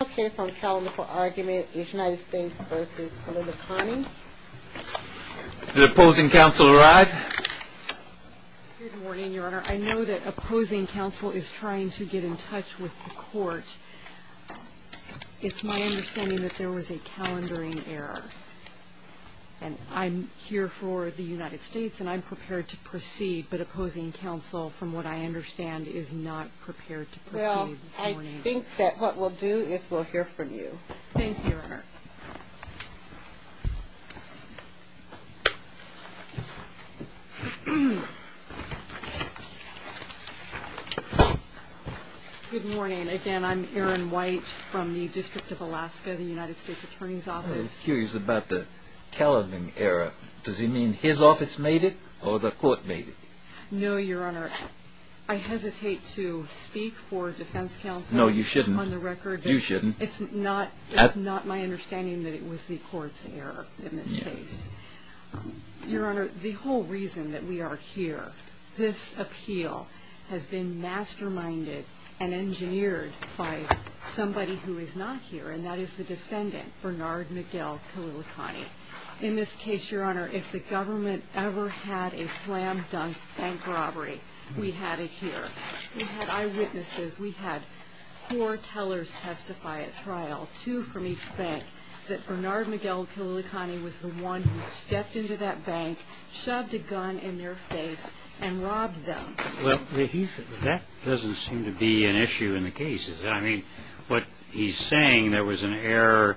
The final case on calendar for argument is United States v. Kalilikane Did opposing counsel arrive? Good morning, Your Honor. I know that opposing counsel is trying to get in touch with the court. It's my understanding that there was a calendaring error. And I'm here for the United States, and I'm prepared to proceed, but opposing counsel, from what I understand, is not prepared to proceed this morning. I think that what we'll do is we'll hear from you. Thank you, Your Honor. Good morning. Again, I'm Erin White from the District of Alaska, the United States Attorney's Office. I'm curious about the calendaring error. Does it mean his office made it or the court made it? No, Your Honor. Your Honor, I hesitate to speak for defense counsel on the record. No, you shouldn't. You shouldn't. It's not my understanding that it was the court's error in this case. Your Honor, the whole reason that we are here, this appeal has been masterminded and engineered by somebody who is not here, and that is the defendant, Bernard Miguel Kalilikane. In this case, Your Honor, if the government ever had a slam-dunk bank robbery, we had it here. We had eyewitnesses. We had four tellers testify at trial, two from each bank, that Bernard Miguel Kalilikane was the one who stepped into that bank, shoved a gun in their face, and robbed them. Well, that doesn't seem to be an issue in the cases. I mean, what he's saying, there was an error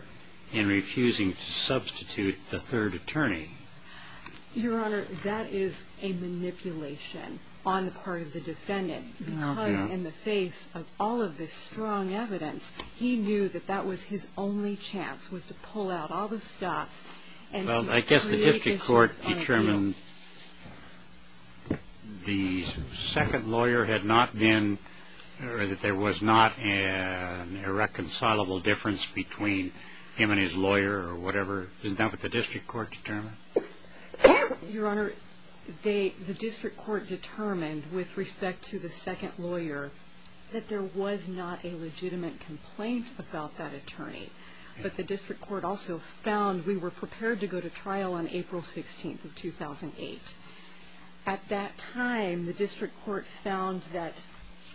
in refusing to substitute the third attorney. Your Honor, that is a manipulation on the part of the defendant, because in the face of all of this strong evidence, he knew that that was his only chance, was to pull out all the stops. Well, I guess the district court determined the second lawyer had not been, or that there was not an irreconcilable difference between him and his lawyer or whatever. Isn't that what the district court determined? Your Honor, the district court determined with respect to the second lawyer that there was not a legitimate complaint about that attorney, but the district court also found we were prepared to go to trial on April 16th of 2008. At that time, the district court found that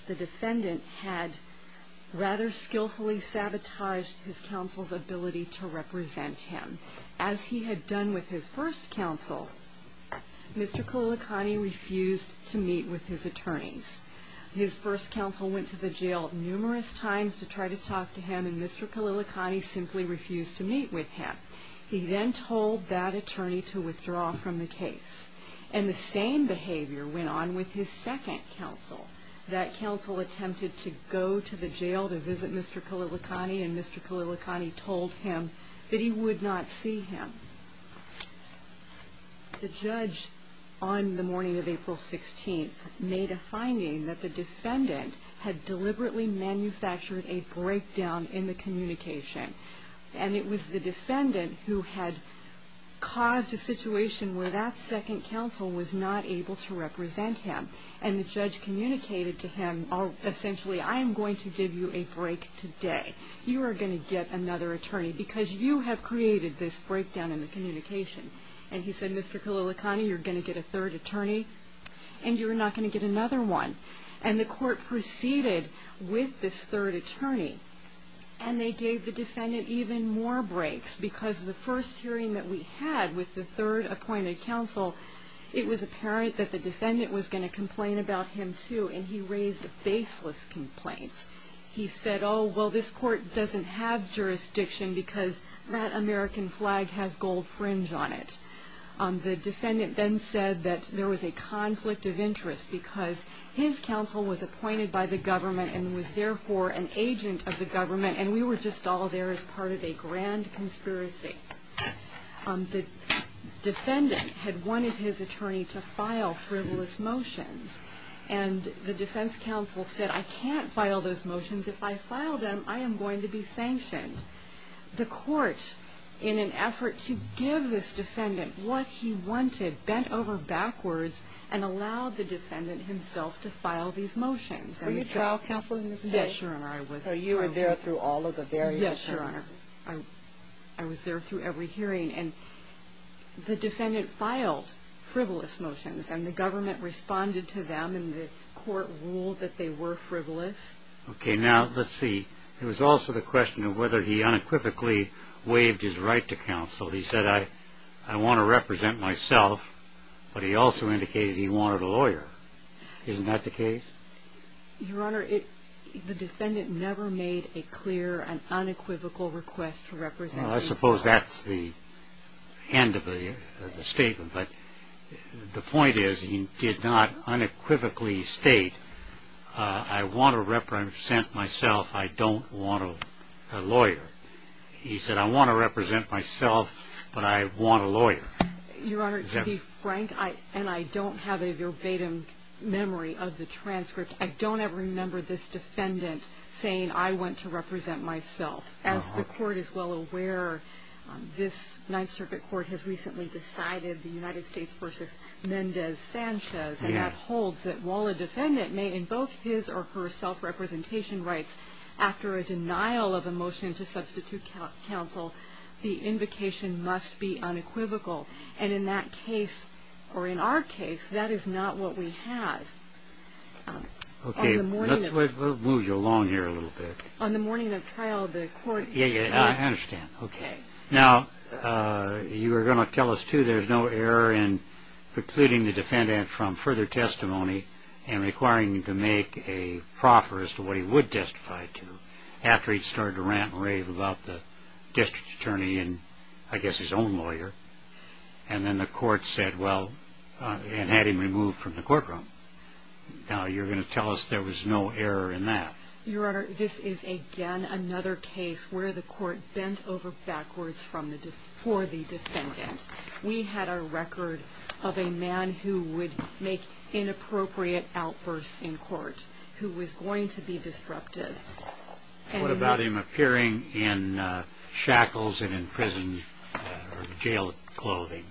the defendant had rather skillfully sabotaged his counsel's ability to represent him. As he had done with his first counsel, Mr. Kalilikane refused to meet with his attorneys. His first counsel went to the jail numerous times to try to talk to him, and Mr. Kalilikane simply refused to meet with him. He then told that attorney to withdraw from the case, and the same behavior went on with his second counsel. That counsel attempted to go to the jail to visit Mr. Kalilikane, and Mr. Kalilikane told him that he would not see him. The judge, on the morning of April 16th, made a finding that the defendant had deliberately manufactured a breakdown in the communication, and it was the defendant who had caused a situation where that second counsel was not able to represent him, and the judge communicated to him, essentially, I am going to give you a break today. You are going to get another attorney because you have created this breakdown in the communication. And he said, Mr. Kalilikane, you're going to get a third attorney, and you're not going to get another one. And the court proceeded with this third attorney, and they gave the defendant even more breaks, because the first hearing that we had with the third appointed counsel, it was apparent that the defendant was going to complain about him, too, and he raised baseless complaints. He said, oh, well, this court doesn't have jurisdiction because that American flag has gold fringe on it. The defendant then said that there was a conflict of interest because his counsel was appointed by the government and was therefore an agent of the government, and we were just all there as part of a grand conspiracy. The defendant had wanted his attorney to file frivolous motions, and the defense counsel said, I can't file those motions. If I file them, I am going to be sanctioned. The court, in an effort to give this defendant what he wanted, bent over backwards and allowed the defendant himself to file these motions. Were you trial counsel in this case? Yes, Your Honor. So you were there through all of the various hearings? Yes, Your Honor. I was there through every hearing, and the defendant filed frivolous motions, and the government responded to them, and the court ruled that they were frivolous. Okay, now, let's see. It was also the question of whether he unequivocally waived his right to counsel. He said, I want to represent myself, but he also indicated he wanted a lawyer. Isn't that the case? Your Honor, the defendant never made a clear and unequivocal request to represent himself. Well, I suppose that's the end of the statement, but the point is he did not unequivocally state, I want to represent myself, I don't want a lawyer. He said, I want to represent myself, but I want a lawyer. Your Honor, to be frank, and I don't have a verbatim memory of the transcript, I don't ever remember this defendant saying, I want to represent myself. As the court is well aware, this Ninth Circuit Court has recently decided, the United States v. Mendez-Sanchez, and that holds that while a defendant may invoke his or her self-representation rights after a denial of a motion to substitute counsel, the invocation must be unequivocal, and in that case, or in our case, that is not what we have. Okay, let's move you along here a little bit. On the morning of trial, the court... Yeah, yeah, I understand, okay. Now, you were going to tell us, too, there's no error in precluding the defendant from further testimony and requiring him to make a proffer as to what he would testify to after he started to rant and rave about the district attorney and, I guess, his own lawyer, and then the court said, well, and had him removed from the courtroom. Now, you're going to tell us there was no error in that. Your Honor, this is, again, another case where the court bent over backwards for the defendant. We had a record of a man who would make inappropriate outbursts in court, who was going to be disruptive. What about him appearing in shackles and in prison or jail clothing?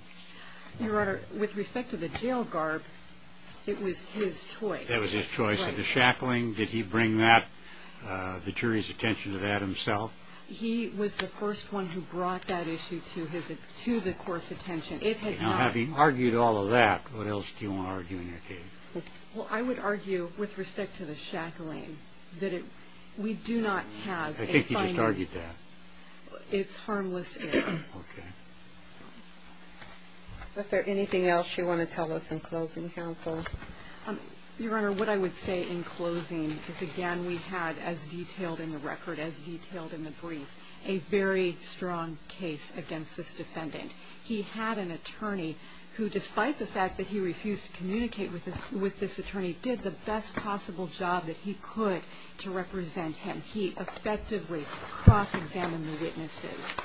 Your Honor, with respect to the jail garb, it was his choice. It was his choice. The shackling, did he bring that, the jury's attention to that himself? He was the first one who brought that issue to the court's attention. Now, having argued all of that, what else do you want to argue in your case? Well, I would argue, with respect to the shackling, that we do not have a finding. I think you just argued that. It's harmless error. Okay. Is there anything else you want to tell us in closing, counsel? Your Honor, what I would say in closing is, again, we had, as detailed in the record, as detailed in the brief, a very strong case against this defendant. He had an attorney who, despite the fact that he refused to communicate with this attorney, did the best possible job that he could to represent him. He effectively cross-examined the witnesses,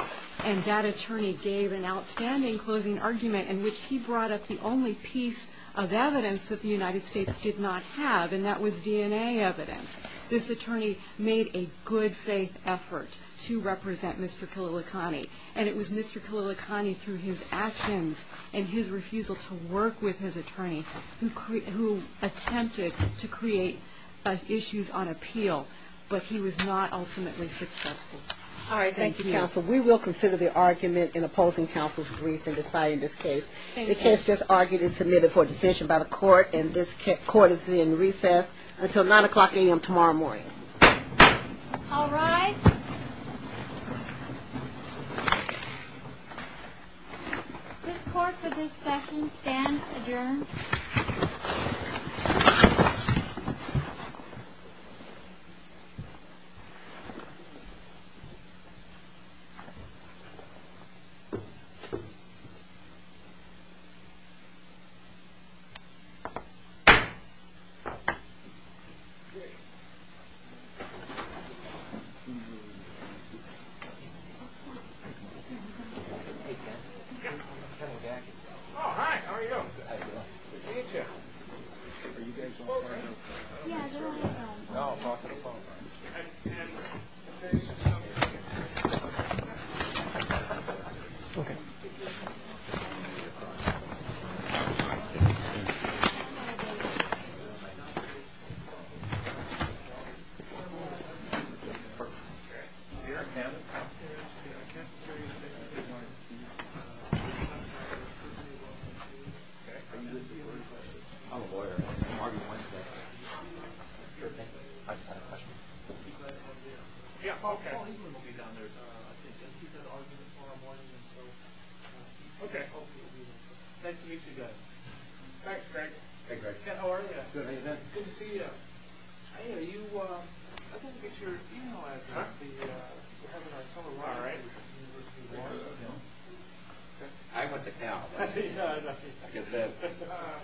and that attorney gave an outstanding closing argument in which he brought up the only piece of evidence that the United States did not have, and that was DNA evidence. This attorney made a good-faith effort to represent Mr. Khalilakhani, and it was Mr. Khalilakhani, through his actions and his refusal to work with his attorney, who attempted to create issues on appeal, but he was not ultimately successful. All right. Thank you, counsel. We will consider the argument in opposing counsel's brief in deciding this case. The case just argued and submitted for a decision by the court, and this court is in recess until 9 o'clock a.m. tomorrow morning. All rise. This court for this session stands adjourned. Hey, Ken. Oh, hi. How are you doing? Good to see you, Jeff. Are you guys on the phone right now? Yeah, they're on the phone. No, I'm not on the phone. All right. All right. Okay. Nice to meet you guys. Hi, Craig. Hey, Craig. Ken, how are you? Good. How are you doing? Good to see you. Hey, are you – I didn't get your email address, the – we're having our summer lunch. All right. I went to Cal. Yeah, I know. Like I said,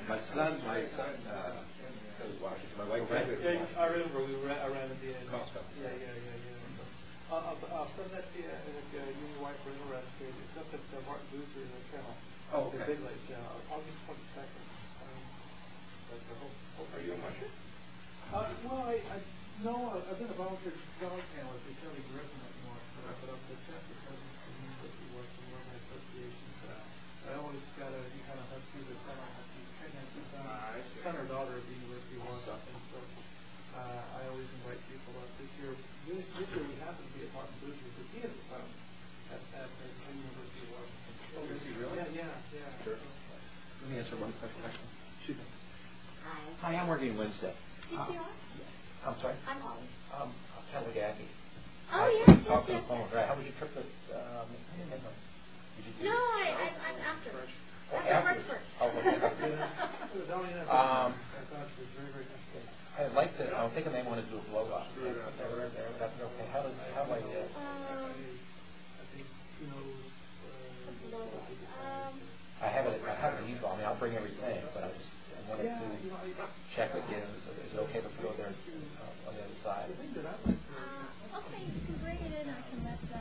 my son – my son goes to Washington. My wife graduated from Washington. I remember. I ran into you. Costco. Yeah, yeah, yeah. I'll send that to you. I'm a technic union wife. It's up at Martin Boozer in the channel. Oh, okay. They're big like – August 22nd. Are you a muncher? No, I've been a volunteer dog handler. They tell me you're in the North. But I'm the chef because he works in the Association. I always kind of – he kind of has to be the center. He's a pregnancy center. I'm the center daughter of the U.S.B. 1. What's up? I always invite people up. This year, he happened to be at Martin Boozer. Because he had a son. And I remember he was – Oh, is he really? Yeah, yeah. Let me answer one question. Hi. Hi, I'm working Wednesday. I'm sorry? I'm Holly. I'm trying to look at you. Oh, yeah. How was your trip? I didn't have lunch. No, I'm after. After breakfast. Oh, okay. I thought it was very, very interesting. I'd like to – I think I may want to do a blowout. Okay. How about this? I have a default. I mean, I'll bring everything. But I just wanted to check with you so there's no hypothetical there on the other side. Okay, you can bring it in. I can let the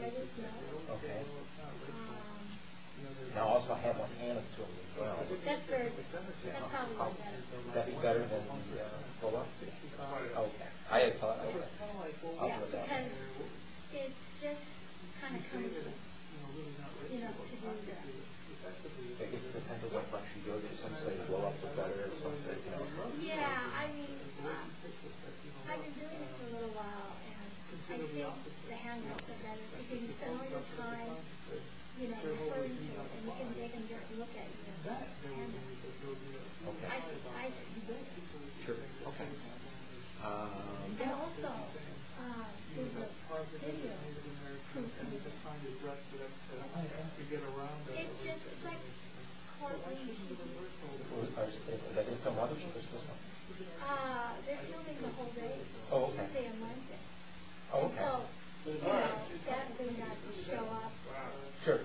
judges know. Okay. And I'll also have one hand up to it as well. That's great. That's probably better. Would that be better than the pull-up? Oh, okay. I had thought of that. Yeah, because it just kind of comes with, you know, to be there. I guess it depends on what bunch you go to. Some say pull-ups are better. Some say hand-ups are better. Yeah, I mean, I've been doing this for a little while, and I think the hand-ups are better because you spend all your time, you know, referring to it, and you can take a look at the hand-ups. Okay. I agree with that. Sure. Okay. And also, there's a video. Okay. It's just, it's like quarantine. That is the mother? They're filming the whole day. Oh, okay. It's just a Monday. Oh, okay. So, you know, she's definitely not going to show up. Sure.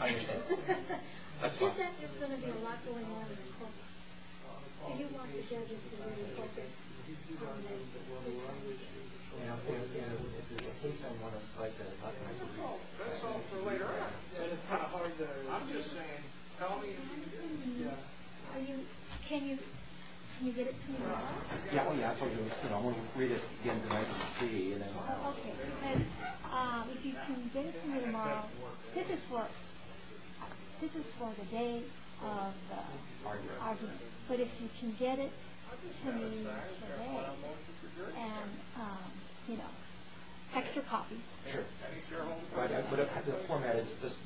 I understand. She said there's going to be a lot going on in the courtroom. Do you want the judges to really focus on this? You know, if there's a case I want to cite that I'm not going to do. That's all for later on. I'm just saying, tell me if you do. Are you, can you get it to me tomorrow? Yeah, well, yeah. I told you, I'm going to read it again tonight and see. Okay. Because if you can get it to me tomorrow, this is for the day of the argument. But if you can get it to me today, and, you know, extra copies. Sure. But the format is just,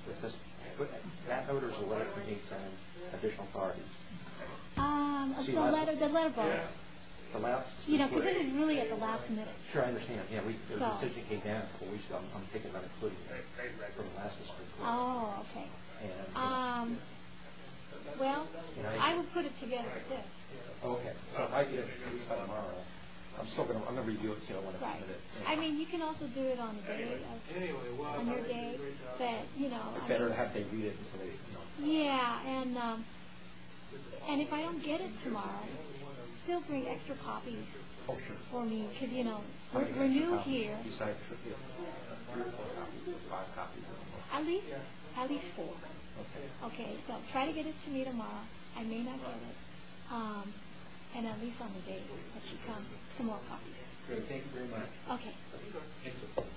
that note or is the letter you need some additional authority? The letter box. You know, because this is really at the last minute. Sure, I understand. The decision came down, but I'm thinking about including it. Oh, okay. Well, I will put it together, too. Okay. So if I get it to you tomorrow, I'm still going to, I'm going to review it. Right. I mean, you can also do it on the day of, on your day. But, you know. Better to have to read it and say, you know. Yeah, and if I don't get it tomorrow, still bring extra copies for me. Because, you know, we're new here. At least four. Okay. Okay, so try to get it to me tomorrow. I may not get it. And at least on the day that you come, some more copies. Okay, thank you very much. Okay.